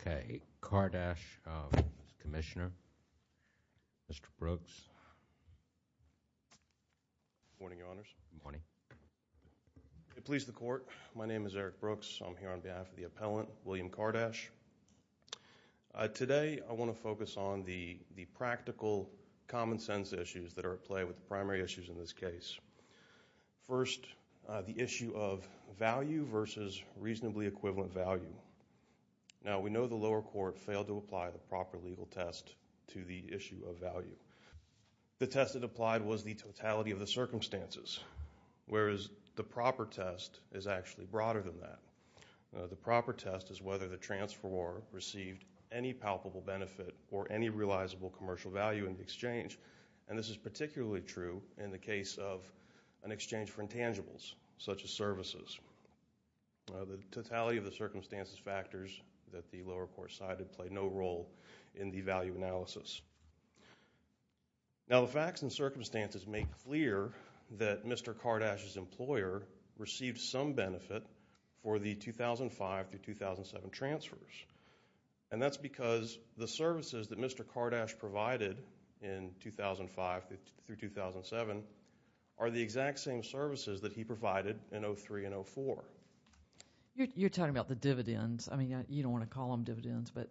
Okay, Kardash, Commissioner, Mr. Brooks, Good morning, Your Honors. Good morning. Please the Court, my name is Eric Brooks. I'm here on behalf of the Appellant, William Kardash. Today, I want to focus on the practical common sense issues that are at play with the primary issues in this case. First, the issue of value versus reasonably equivalent value. Now, we know the lower court failed to apply the proper legal test to the issue of value. The test it applied was the totality of the circumstances, whereas the proper test is actually broader than that. The proper test is whether the transferor received any palpable benefit or any realizable commercial value in the exchange, and this is particularly true in the case of an exchange for intangibles, such as services. The totality of the circumstances factors that the lower court cited play no role in the value analysis. Now, the facts and circumstances make clear that Mr. Kardash's employer received some benefit for the 2005-2007 transfers, and that's because the services that Mr. Kardash provided in 2005-2007 are the exact same services that he provided in 2003 and 2004. You're talking about the dividends. I mean, you don't want to call them dividends, but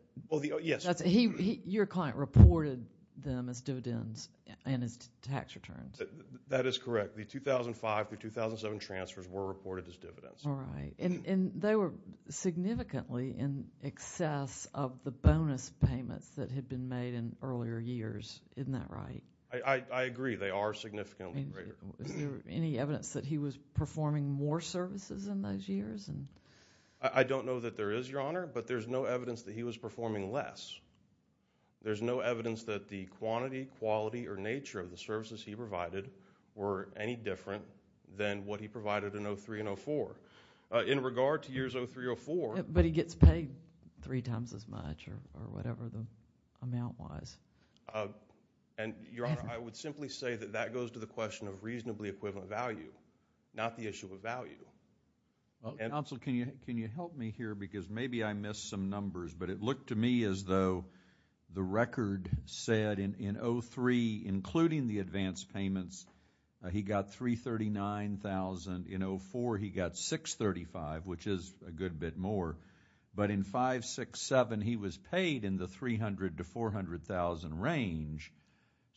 your client reported them as dividends and as tax returns. That is correct. The 2005-2007 transfers were reported as dividends. All right. And they were significantly in excess of the bonus payments that had been made in earlier years. Isn't that right? I agree. They are significantly greater. Is there any evidence that he was performing more services in those years? I don't know that there is, Your Honor, but there's no evidence that he was performing less. There's no evidence that the quantity, quality, or nature of the services he provided were any different than what he provided in 2003 and 2004. In regard to years 2003-2004 But he gets paid three times as much, or whatever the amount was. And Your Honor, I would simply say that that goes to the question of reasonably equivalent value, not the issue of value. Counsel, can you help me here, because maybe I missed some numbers, but it looked to me as though the record said in 2003, including the advance payments, he got $339,000. In 2004, he got $635,000, which is a good bit more. But in 2005-2007, he was paid in the $300,000 to $400,000 range.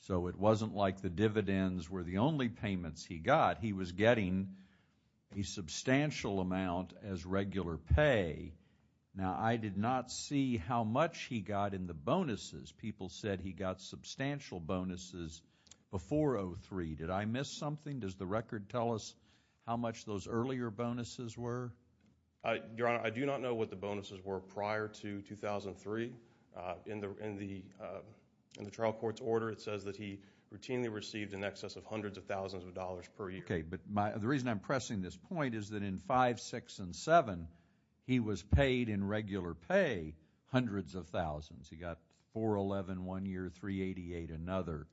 So it wasn't like the dividends were the only payments he got. He was getting a substantial amount as regular pay. Now, I did not see how much he got in the bonuses. People said he got substantial bonuses before 2003. Did I miss something? Does the record tell us how much those earlier bonuses were? Your Honor, I do not know what the bonuses were prior to 2003. In the trial court's order, it says that he routinely received in excess of hundreds of thousands of dollars per year. Okay. But the reason I'm pressing this point is that in 2005, 2006, and 2007, he was paid in regular pay hundreds of thousands. He got $411,000 one year, $388,000 another,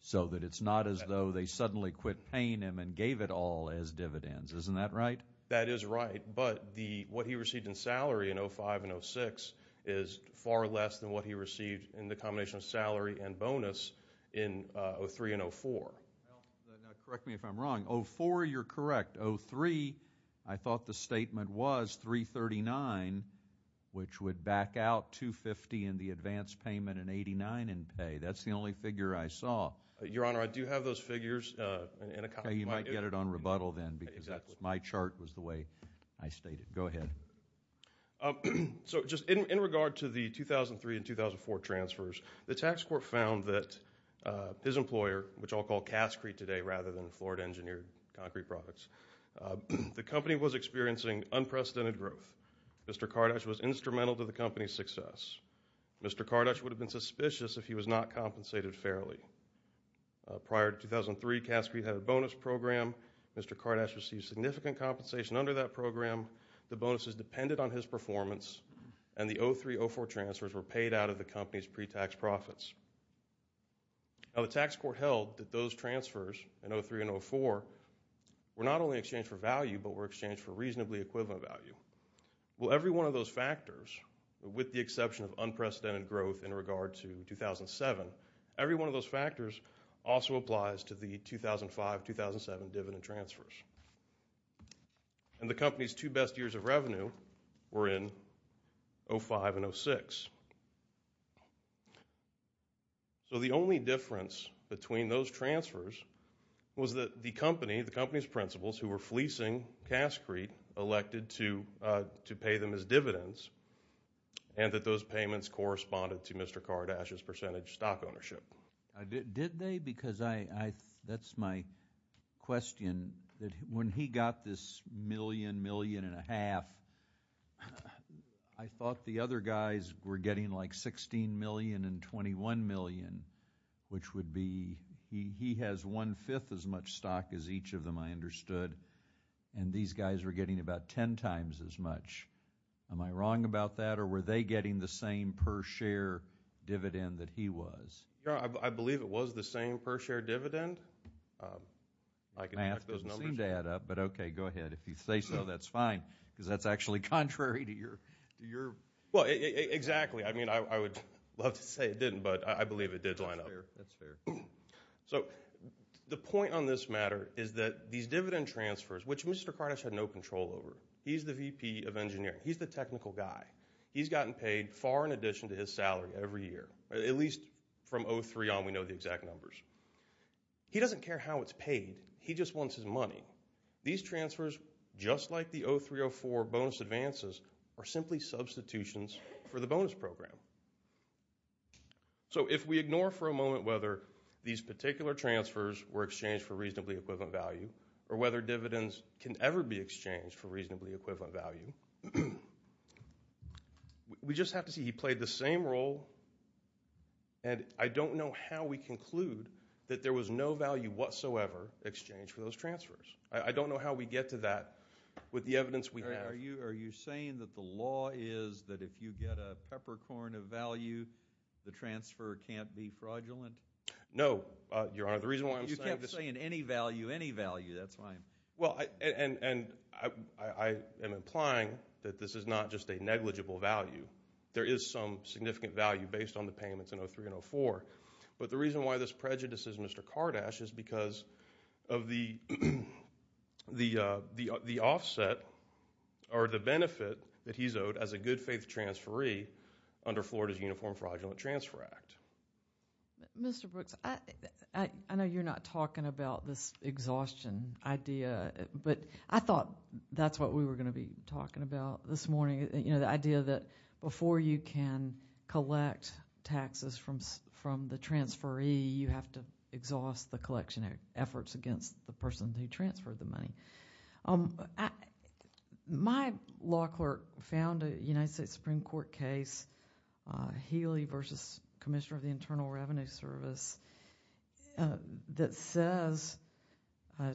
so that it's not as though they suddenly quit paying him and gave it all as dividends. Isn't that right? That is right. But what he received in salary in 2005 and 2006 is far less than what he received in the combination of salary and bonus in 2003 and 2004. Now, correct me if I'm wrong. In 2004, you're correct. In 2003, I thought the statement was $339,000, which would back out $250,000 in the advance payment and $89,000 in pay. That's the only figure I saw. Your Honor, I do have those figures in a copy. Okay. You might get it on rebuttal then because my chart was the way I stated. Go ahead. In regard to the 2003 and 2004 transfers, the tax court found that his employer, which I'll call Cascrete today rather than Florida Engineered Concrete Products, the company was experiencing unprecedented growth. Mr. Kardash was instrumental to the company's success. Mr. Kardash would have been suspicious if he was not compensated fairly. Prior to 2003, Cascrete had a bonus program. Mr. Kardash received significant compensation under that program. The bonuses depended on his performance, and the 2003-2004 transfers were paid out of the company's pre-tax profits. Now, the tax court held that those transfers in 2003 and 2004 were not only exchanged for value, but were exchanged for reasonably equivalent value. Well, every one of those factors, with the exception of unprecedented growth in regard to 2007, every one of those factors also applies to the 2005-2007 dividend transfers. And the company's two best years of revenue were in 2005 and 2006. So the only difference between those transfers was that the company, the company's principals, who were fleecing Cascrete, elected to pay them as dividends, and that those payments corresponded to Mr. Kardash's percentage stock ownership. Did they? Because I, that's my question. When he got this million, million and a half, I thought the other guys were getting like 16 million and 21 million, which would be, he has one-fifth as much stock as each of them, I understood, and these guys were getting about 10 times as much. Am I wrong about that, or were they getting the same per share dividend that he was? I believe it was the same per share dividend. I can check those numbers. Math doesn't seem to add up, but okay, go ahead. If you say so, that's fine, because that's actually contrary to your, to your... Well, exactly. I mean, I would love to say it didn't, but I believe it did line up. That's fair. So, the point on this matter is that these dividend transfers, which Mr. Kardash had no control over, he's the VP of Engineering. He's the technical guy. He's gotten paid far in addition to his salary every year, at least from 03 on, we know the exact numbers. He doesn't care how it's paid. He just wants his money. These transfers, just like the 03-04 bonus advances, are simply substitutions for the bonus program. So if we ignore for a moment whether these particular transfers were exchanged for reasonably equivalent value, or whether dividends can ever be exchanged for reasonably equivalent value, we just have to see. He played the same role, and I don't know how we conclude that there was no value whatsoever exchanged for those transfers. I don't know how we get to that with the evidence we have. Are you saying that the law is that if you get a peppercorn of value, the transfer can't be fraudulent? No, Your Honor. The reason why I'm saying this... You kept saying any value, any value. That's why I'm... Well, and I am implying that this is not just a negligible value. There is some significant value based on the payments in 03 and 04. But the reason why this prejudices Mr. Kardash is because of the offset, or the benefit, that he's owed as a good-faith transferee under Florida's Uniform Fraudulent Transfer Act. Mr. Brooks, I know you're not talking about this exhaustion idea, but I thought that's what we were going to be talking about this morning, the idea that before you can collect taxes from the transferee, you have to exhaust the collection efforts against the person who transferred the money. My law clerk found a United States Supreme Court case, Healy v. Commissioner of the Internal Revenue Service, that says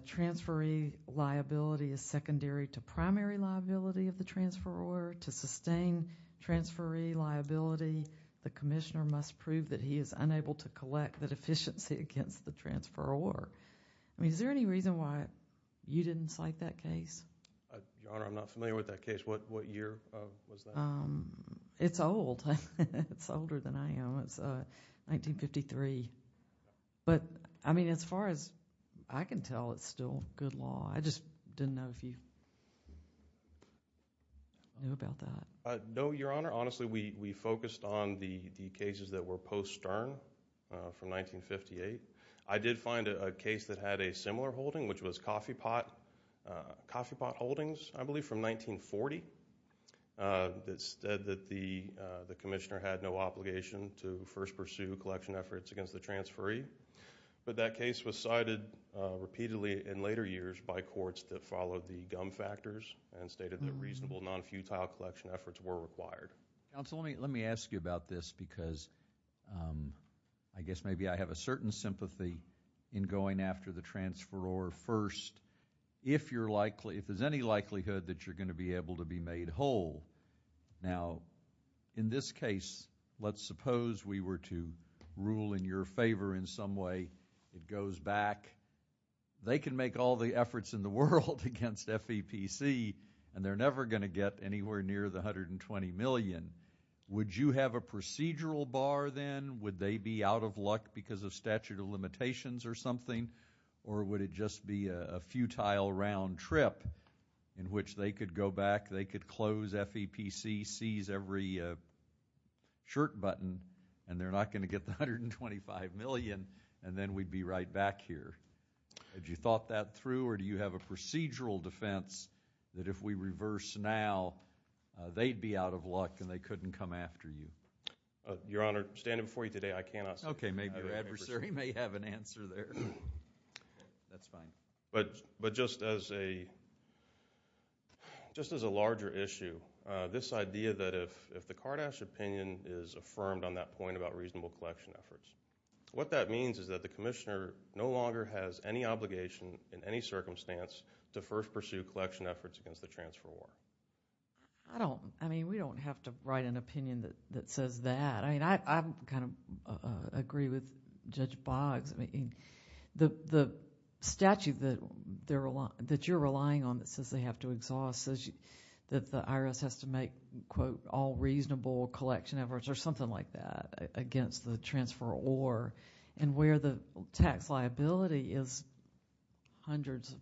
transferee liability is secondary to primary liability of the transferor. To sustain transferee liability, the commissioner must prove that he is unable to collect the Your Honor, I'm not familiar with that case. What year was that? It's old. It's older than I am. It's 1953. But, I mean, as far as I can tell, it's still good law. I just didn't know if you knew about that. No, Your Honor. Honestly, we focused on the cases that were post-stern from 1958. I did find a case that had a similar holding, which was Coffee Pot Holdings, I believe, from 1940, that said that the commissioner had no obligation to first pursue collection efforts against the transferee. But that case was cited repeatedly in later years by courts that followed the gum factors and stated that reasonable, non-futile collection efforts were required. Counsel, let me ask you about this, because I guess maybe I have a certain sympathy in going after the transferor first, if there's any likelihood that you're going to be able to be made whole. Now, in this case, let's suppose we were to rule in your favor in some way. It goes back. They can make all the efforts in the world against FEPC, and they're never going to get anywhere near the $120 million. Would you have a procedural bar then? Would they be out of luck because of statute of limitations or something, or would it just be a futile round trip in which they could go back, they could close FEPC, seize every shirt button, and they're not going to get the $125 million, and then we'd be right back here. Had you thought that through, or do you have a procedural defense that if we reverse now, they'd be out of luck and they couldn't come after you? Your Honor, standing before you today, I cannot say. Okay, maybe your adversary may have an answer there. That's fine. But just as a larger issue, this idea that if the Kardash opinion is affirmed on that point about reasonable collection efforts, what that means is that the commissioner no longer has any obligation in any circumstance to first pursue collection efforts against the transferor. I mean, we don't have to write an opinion that says that. I mean, I kind of agree with Judge Boggs. I mean, the statute that you're relying on that says they have to exhaust says that the IRS has to make, quote, all reasonable collection efforts or something like that against the transferor, and where the tax liability is hundreds,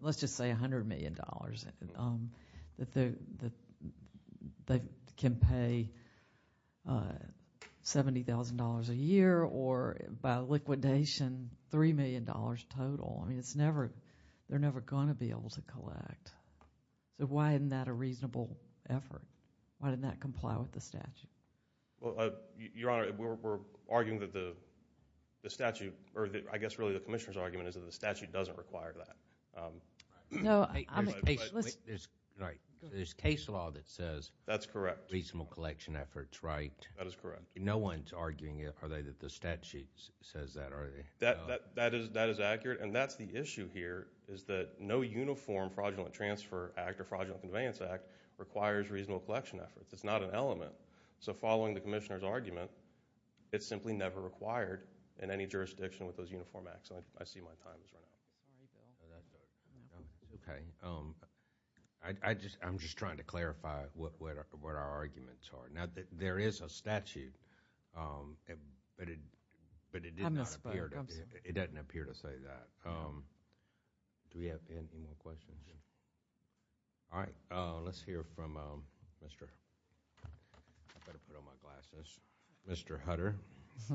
let's just say $100 million, that they can pay $70,000 a year or, by liquidation, $3 million total. I mean, it's never, they're never going to be able to collect. So why isn't that a reasonable effort? Why didn't that comply with the statute? Well, Your Honor, we're arguing that the statute, or I guess really the commissioner's argument, doesn't require that. There's case law that says reasonable collection efforts, right? That is correct. No one's arguing that the statute says that, are they? That is accurate, and that's the issue here, is that no uniform fraudulent transfer act or fraudulent conveyance act requires reasonable collection efforts. It's not an element. So following the commissioner's argument, it's simply never required in any jurisdiction with those uniform acts. I see my time has run out. Okay. I'm just trying to clarify what our arguments are. Now, there is a statute, but it didn't appear to say that. Do we have any more questions? All right. Let's hear from Mr. I better put on my glasses, Mr. Hutter. I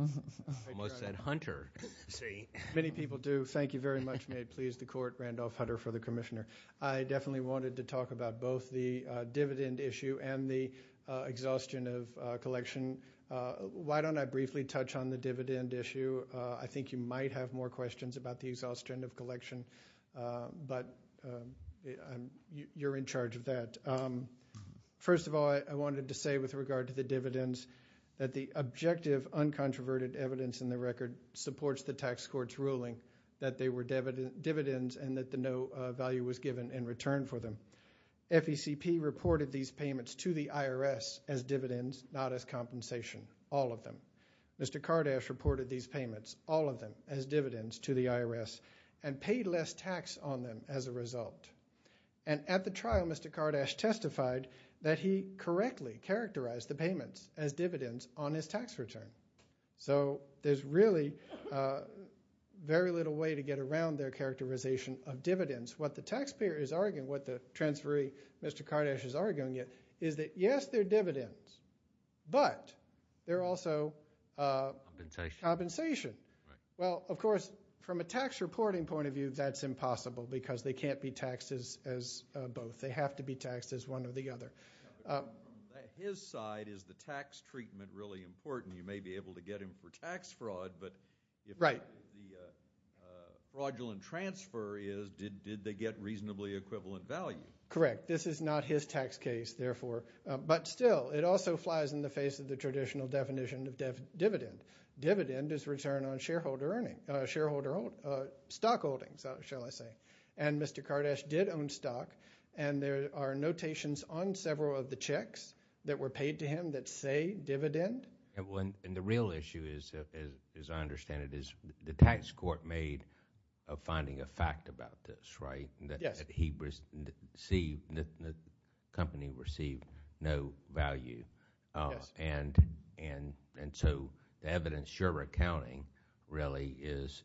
almost said Hunter, see? Many people do. Thank you very much. May it please the court, Randolph Hutter for the commissioner. I definitely wanted to talk about both the dividend issue and the exhaustion of collection. Why don't I briefly touch on the dividend issue? I think you might have more questions about the exhaustion of collection, but you're in charge of that. First of all, I wanted to say with regard to the dividends that the objective uncontroverted evidence in the record supports the tax court's ruling that they were dividends and that the no value was given in return for them. FECP reported these payments to the IRS as dividends, not as compensation, all of them. Mr. Kardash reported these payments, all of them, as dividends to the IRS and paid less tax on them as a result. At the trial, Mr. Kardash testified that he correctly characterized the payments as dividends on his tax return. So there's really very little way to get around their characterization of dividends. What the taxpayer is arguing, what the transferee, Mr. Kardash, is arguing is that yes, they're dividends, but they're also compensation. Well, of course, from a tax reporting point of view, that's impossible because they can't be taxed as both. They have to be taxed as one or the other. On his side, is the tax treatment really important? You may be able to get him for the equivalent value. Correct. This is not his tax case, therefore. But still, it also flies in the face of the traditional definition of dividend. Dividend is return on shareholder earnings, stock holdings, shall I say. And Mr. Kardash did own stock, and there are notations on several of the checks that were paid to him that say dividend. And the real issue is, as I understand it, is the tax court made a finding of fact about this, right? Yes. He received, the company received no value. Yes. And so the evidence you're recounting really is,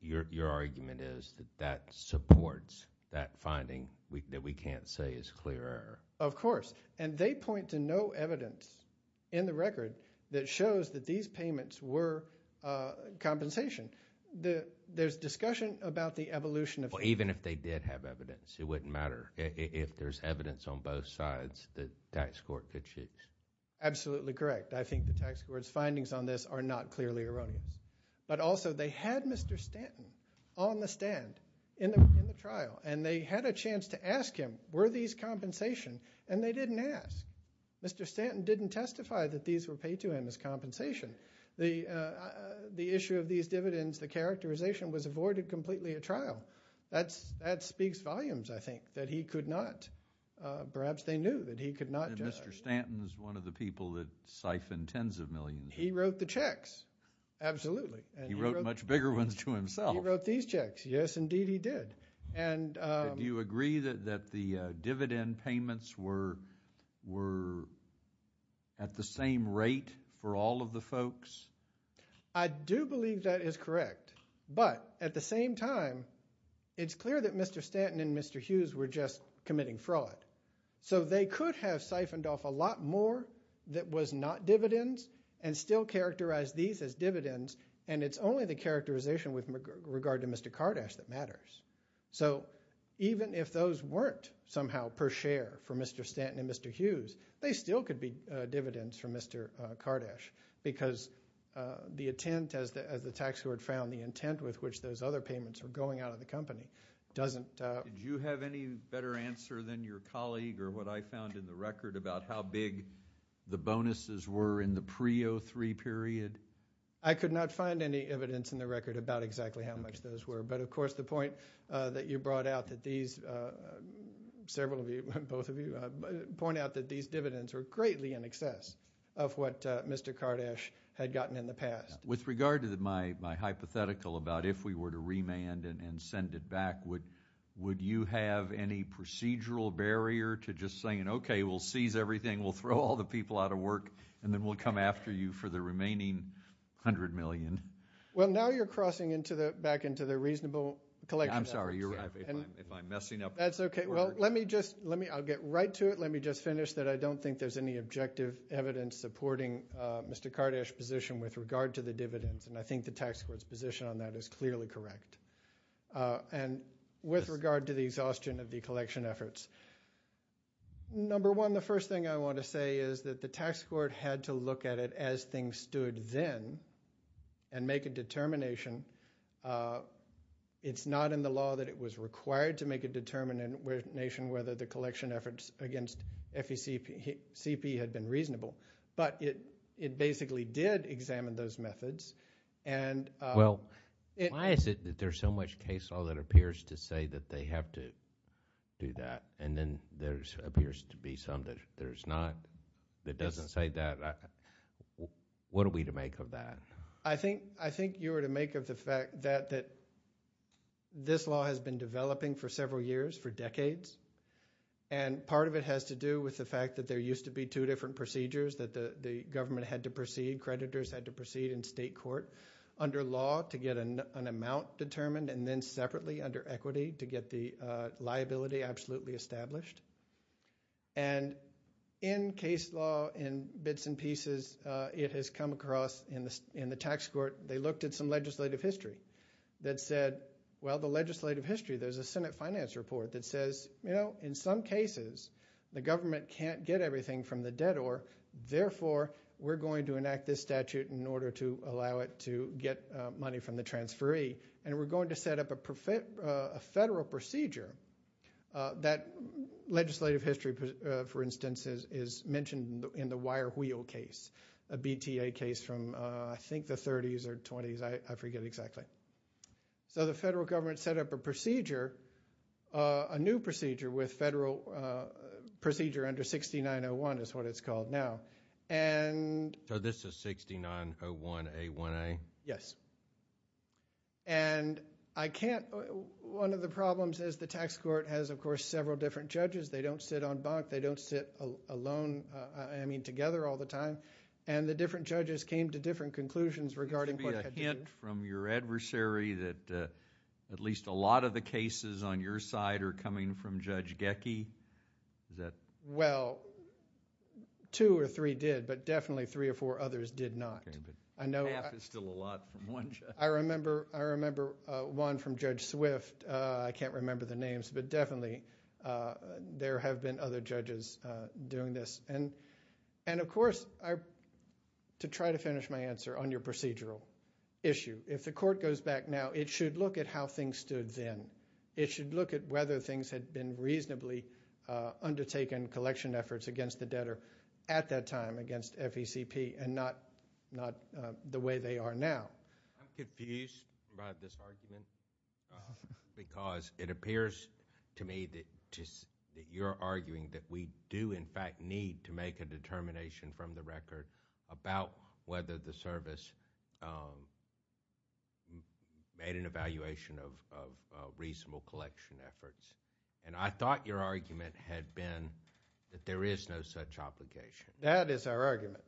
your argument is that that supports that finding that we can't say is clear. Of course. And they point to no evidence in the record that shows that these payments were compensation. There's discussion about the evolution of... Even if they did have evidence, it wouldn't matter. If there's evidence on both sides, the tax court could choose. Absolutely correct. I think the tax court's findings on this are not clearly erroneous. But also, they had Mr. Stanton on the stand in the trial, and they had a chance to ask him, were these compensation? And they didn't ask. Mr. Stanton didn't testify that these were paid to him as compensation. The issue of these dividends, the characterization was avoided completely at trial. That speaks volumes, I think, that he could not, perhaps they knew that he could not justify... And Mr. Stanton's one of the people that siphoned tens of millions. He wrote the checks. Absolutely. He wrote much bigger ones to himself. He wrote these checks. Do you agree that the dividend payments were at the same rate for all of the folks? I do believe that is correct. But at the same time, it's clear that Mr. Stanton and Mr. Hughes were just committing fraud. So they could have siphoned off a lot more that was not dividends, and still characterize these as dividends, and it's only the characterization with regard to Mr. Kardash that matters. So even if those weren't somehow per share for Mr. Stanton and Mr. Hughes, they still could be dividends for Mr. Kardash, because the intent, as the tax court found, the intent with which those other payments were going out of the company doesn't... Did you have any better answer than your colleague or what I found in the record about how big the bonuses were in the pre-'03 period? I could not find any evidence in the record about exactly how much those were. But of course, the point that you brought out that these, several of you, both of you, point out that these dividends were greatly in excess of what Mr. Kardash had gotten in the past. With regard to my hypothetical about if we were to remand and send it back, would you have any procedural barrier to just saying, okay, we'll seize everything, we'll throw all the people out of work, and then we'll come after you for the remaining $100 million? Well now you're crossing back into the reasonable collection efforts. I'm sorry, you're right. If I'm messing up... That's okay. Well, let me just... I'll get right to it. Let me just finish that I don't think there's any objective evidence supporting Mr. Kardash's position with regard to the dividends, and I think the tax court's position on that is clearly correct. And with regard to the exhaustion of the collection efforts, number one, the first thing I want to say is that the tax court had to look at it as things stood then and make a determination. It's not in the law that it was required to make a determination whether the collection efforts against FECP had been reasonable, but it basically did examine those methods. Well, why is it that there's so much case law that appears to say that they have to do that, and then there appears to be some that there's not, that doesn't say that? What are we to make of that? I think you were to make of the fact that this law has been developing for several years, for decades, and part of it has to do with the fact that there used to be two different procedures, that the government had to proceed, creditors had to proceed in state court under law to get an amount determined, and then separately under equity to get the liability absolutely established. And in case law, in bits and pieces, it has come across in the tax court, they looked at some legislative history that said, well, the legislative history, there's a Senate finance report that says, you know, in some cases, the government can't get everything from the debtor, therefore, we're going to enact this statute in order to allow it to get money from the transferee, and we're going to set up a federal procedure that legislative history, for instance, is mentioned in the wire wheel case, a BTA case from I think the 30s or 20s, I forget exactly. So the federal government set up a procedure, a new procedure with federal procedure under 6901 is what it's called now. So this is 6901A1A? Yes. And I can't, one of the problems is the tax court has, of course, several different judges, they don't sit on bunk, they don't sit alone, I mean together all the time, and the different judges came to different conclusions regarding what had to be done. Do you have a hint from your adversary that at least a lot of the cases on your side are coming from Judge Gecki? Well, two or three did, but definitely three or four others did not. Half is still a lot from one judge. I remember one from Judge Swift, I can't remember the names, but definitely there have been other judges doing this. And of course, to try to finish my answer on your procedural, if the court goes back now, it should look at how things stood then. It should look at whether things had been reasonably undertaken, collection efforts against the debtor at that time against FECP and not the way they are now. I'm confused about this argument because it appears to me that you're arguing that we do, in fact, need to make a determination from the record about whether the service made an evaluation of reasonable collection efforts. And I thought your argument had been that there is no such obligation. That is our argument.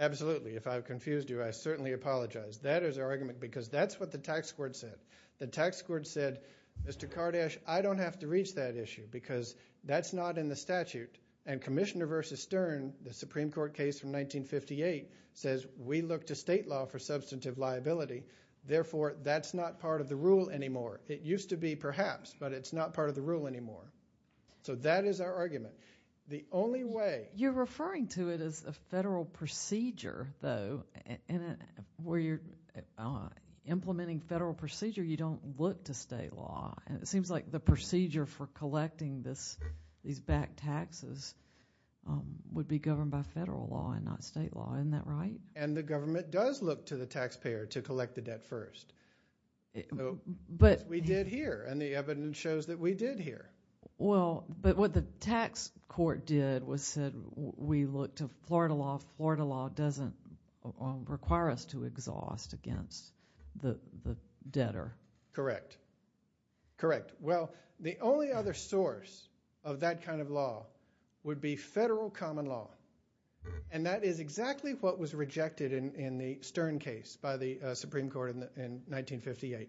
Absolutely. If I've confused you, I certainly apologize. That is our argument because that's what the tax court said. The tax court said, Mr. Kardash, I don't have to reach that issue because that's not in the statute. And Commissioner v. Stern, the Supreme Court case from 1958, says we look to state law for substantive liability. Therefore, that's not part of the rule anymore. It used to be, perhaps, but it's not part of the rule anymore. So that is our argument. The only way... You're referring to it as a federal procedure, though, and where you're implementing federal procedure, you don't look to state law. And it seems like the procedure for collecting these back taxes would be governed by federal law and not state law. Isn't that right? And the government does look to the taxpayer to collect the debt first, as we did here. And the evidence shows that we did here. Well, but what the tax court did was said, we look to Florida law. Florida law doesn't require us to exhaust against the debtor. Correct. Correct. Well, the only other source of that kind of law would be federal common law. And that is exactly what was rejected in the Stern case by the Supreme Court in 1958.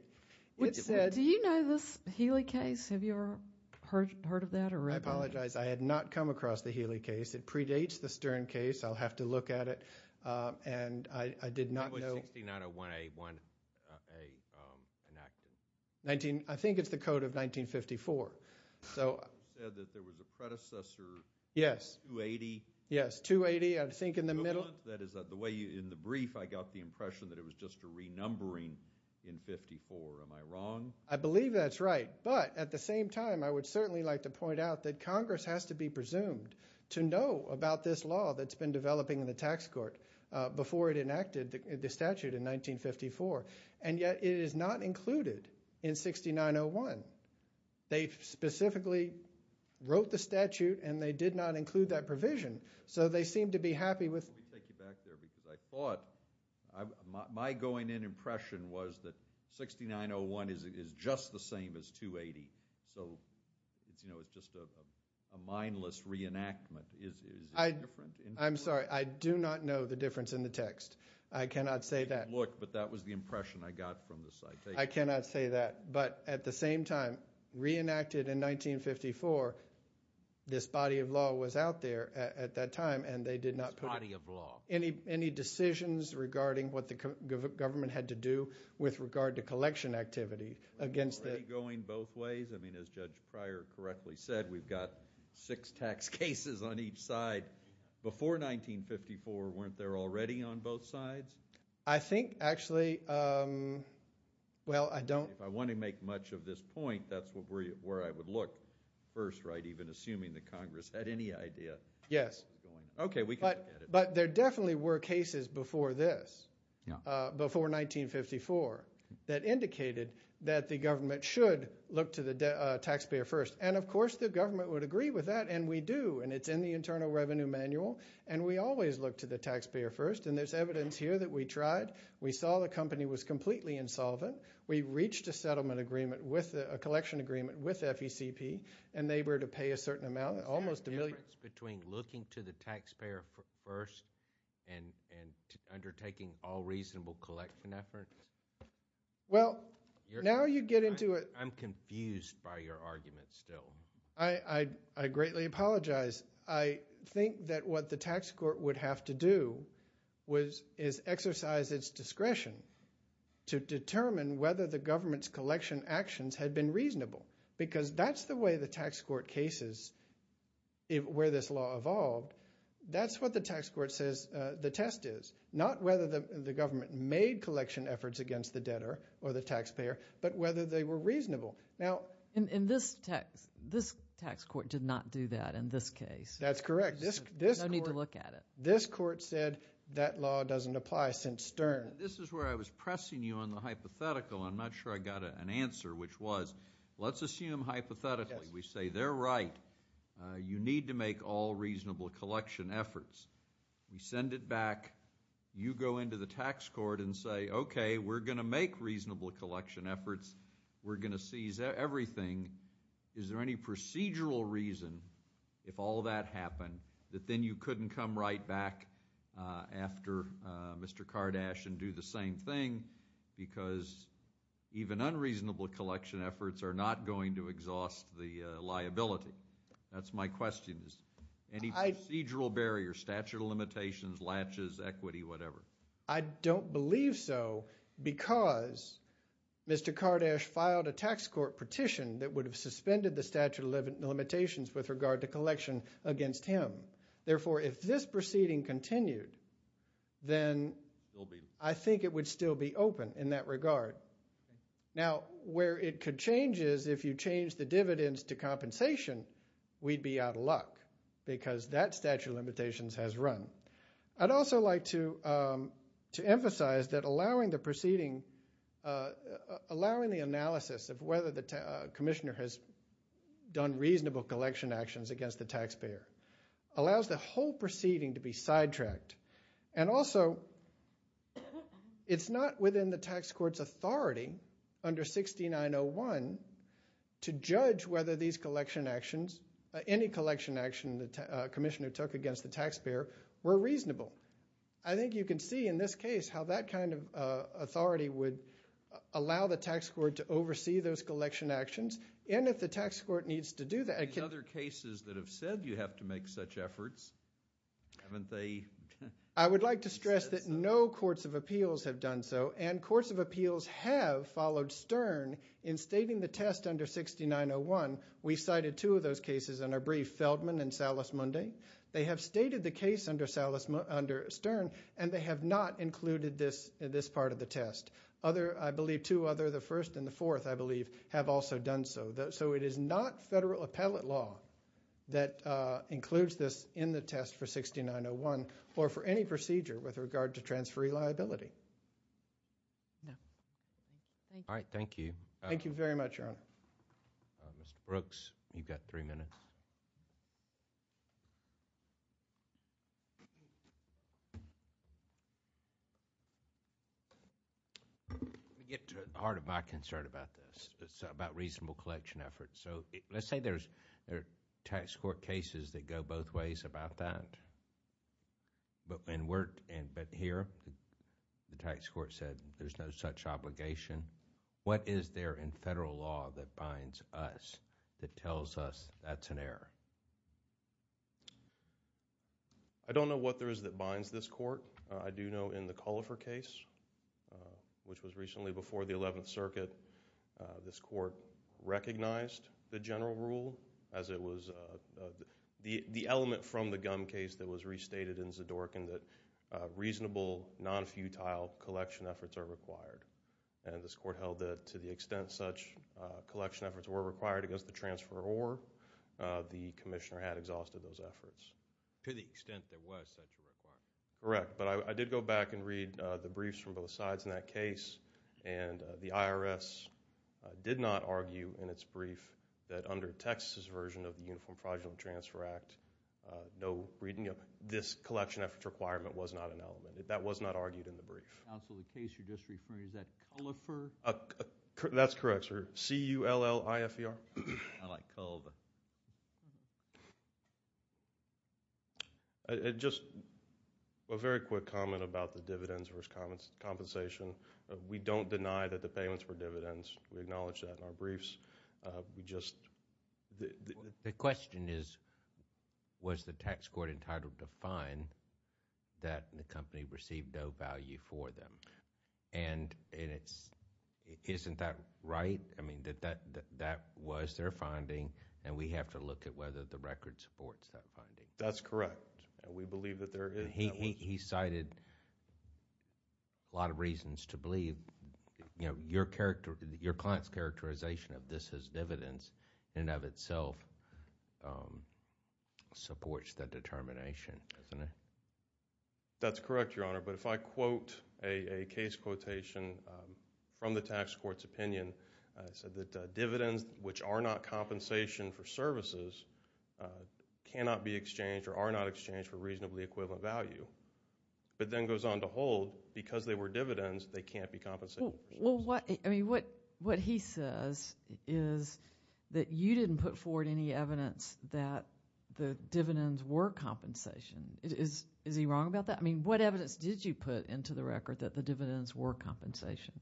Do you know this Healy case? Have you ever heard of that or read about it? I apologize. I had not come across the Healy case. It predates the Stern case. I'll have to look at it. And I did not know... When was 6901A enacted? I think it's the code of 1954. You said that there was a predecessor, 280? Yes, 280, I think in the middle. That is the way, in the brief, I got the impression that it was just a renumbering in 54. Am I wrong? I believe that's right. But at the same time, I would certainly like to point out that Congress has to be presumed to know about this law that's been developing in the tax court before it enacted the statute in 1954. And yet it is not included in 6901. They specifically wrote the statute and they did not include that provision. So they seem to be happy with... Let me take you back there because I thought, my going in impression was that 6901 is just the same as 280. So it's just a mindless reenactment. Is it different? I'm sorry. I do not know the difference in the text. I cannot say that. Look, but that was the impression I got from the citation. I cannot say that. But at the same time, reenacted in 1954, this body of law was out there at that time and they did not put... This body of law. Any decisions regarding what the government had to do with regard to collection activity against the... Were they going both ways? I mean, as Judge Pryor correctly said, we've got six tax cases on each side. Before 1954, weren't there already on both sides? I think, actually, well, I don't... If I want to make much of this point, that's where I would look first, right, even assuming that Congress had any idea. Yes. Okay, we can look at it. But there definitely were cases before this, before 1954, that indicated that the government should look to the taxpayer first. And, of course, the government would agree with that, and we do, and it's in the Internal Revenue Manual, and we always look to the taxpayer first, and there's evidence here that we tried. We saw the company was completely insolvent. We reached a settlement agreement with, a collection agreement with FECP, and they were to pay a certain amount, almost a million... So what's the difference between looking to the taxpayer first and undertaking all reasonable collection efforts? Well, now you get into a... I'm confused by your argument still. I greatly apologize. I think that what the tax court would have to do is exercise its discretion to determine whether the government's collection actions had been reasonable, because that's the way the tax court cases, where this law evolved. That's what the tax court says the test is, not whether the government made collection efforts against the debtor or the taxpayer, but whether they were reasonable. Now... In this text, this tax court did not do that in this case. That's correct. This court... There's no need to look at it. This court said that law doesn't apply since Stern. This is where I was pressing you on the hypothetical. I'm not sure I got an answer, which was, let's assume hypothetically, we say they're right. You need to make all reasonable collection efforts. We send it back. You go into the tax court and say, okay, we're going to make reasonable collection efforts. We're going to seize everything. Is there any procedural reason, if all that happened, that then you couldn't come right back after Mr. Kardash and do the same thing, because even unreasonable collection efforts are not going to exhaust the liability? That's my question. Any procedural barriers, statute of limitations, latches, equity, whatever? I don't believe so, because Mr. Kardash filed a tax court petition that would have suspended the statute of limitations with regard to collection against him. Therefore, if this proceeding continued, then... I think it would still be open in that regard. Now, where it could change is if you change the dividends to compensation, we'd be out of luck, because that statute of limitations has run. I'd also like to emphasize that allowing the analysis of whether the commissioner has done reasonable collection actions against the taxpayer allows the whole proceeding to be sidetracked. And also, it's not within the tax court's authority under 6901 to judge whether these collection actions, any collection action the commissioner took against the taxpayer, were reasonable. I think you can see in this case how that kind of authority would allow the tax court to oversee those collection actions, and if the tax court needs to do that... In other cases that have said you have to make such efforts, haven't they... I would like to stress that no courts of appeals have done so, and courts of appeals have followed Stern in stating the test under 6901. We cited two of those cases in our brief, Feldman and Salas-Munday. They have stated the case under Stern, and they have not included this part of the test. I believe two other, the first and the fourth, I believe, have also done so. So it is not federal appellate law that includes this in the test for 6901 or for any procedure with regard to transferee liability. All right, thank you. Thank you very much, Your Honor. Let me get to the heart of my concern about this. It's about reasonable collection efforts. Let's say there are tax court cases that go both ways about that, but here the tax court said there's no such obligation. What is there in federal law that binds us, that tells us that's an error? I don't know what there is that binds this court. I do know in the Cullifer case, which was recently before the 11th Circuit, this court recognized the general rule as it was the element from the Gumm case that was restated in Zadorkin that reasonable, non-futile collection efforts are required. And this court held that to the extent such collection efforts were required against the transferor, the commissioner had exhausted those efforts. To the extent there was such a requirement? Correct. But I did go back and read the briefs from both sides in that case, and the IRS did not argue in its brief that under Texas' version of the Uniform Fraudulent Transfer Act, this collection effort requirement was not an element. That was not argued in the brief. Counsel, the case you're just referring to, is that Cullifer? That's correct, sir. C-U-L-L-I-F-E-R. I like Culliver. Just a very quick comment about the dividends versus compensation. We don't deny that the payments were dividends. We acknowledge that in our briefs. The question is, was the tax court entitled to fine that the company received no value for them? And isn't that right? I mean, that was their finding, and we have to look at whether the record supports that finding. That's correct. We believe that there is. He cited a lot of reasons to believe your client's characterization of this as dividends in and of itself supports the determination, doesn't it? That's correct, Your Honor. But if I quote a case quotation from the tax court's opinion, it said that dividends, which are not compensation for services, cannot be exchanged or are not exchanged for reasonably equivalent value. But then goes on to hold, because they were dividends, they can't be compensated. What he says is that you didn't put forward any evidence that the dividends were compensation. Is he wrong about that? I mean, what evidence did you put into the record that the dividends were compensation?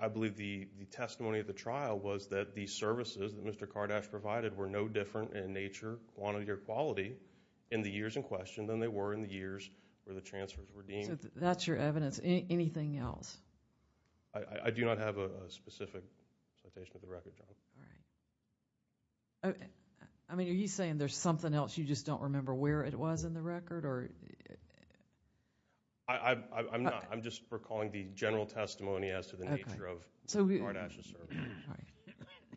I believe the testimony of the trial was that the services that Mr. Kardash provided were no different in nature, quantity, or quality in the years in question than they were in the years where the transfers were deemed. So that's your evidence. Anything else? I mean, are you saying there's something else you just don't remember where it was in the record? I'm just recalling the general testimony as to the nature of Kardash's service.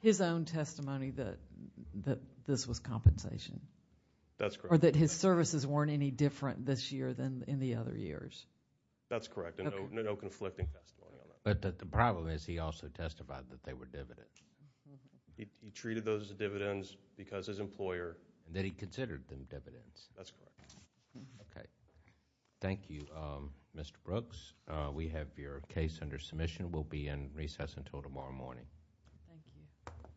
His own testimony that this was compensation? That's correct. Or that his services weren't any different this year than in the other years? That's correct, and no conflicting testimony on that. But the problem is he also testified that they were dividends. He treated those as dividends because as an employer. That he considered them dividends. That's correct. Okay. Thank you, Mr. Brooks. We have your case under submission. We'll be in recess until tomorrow morning. Thank you.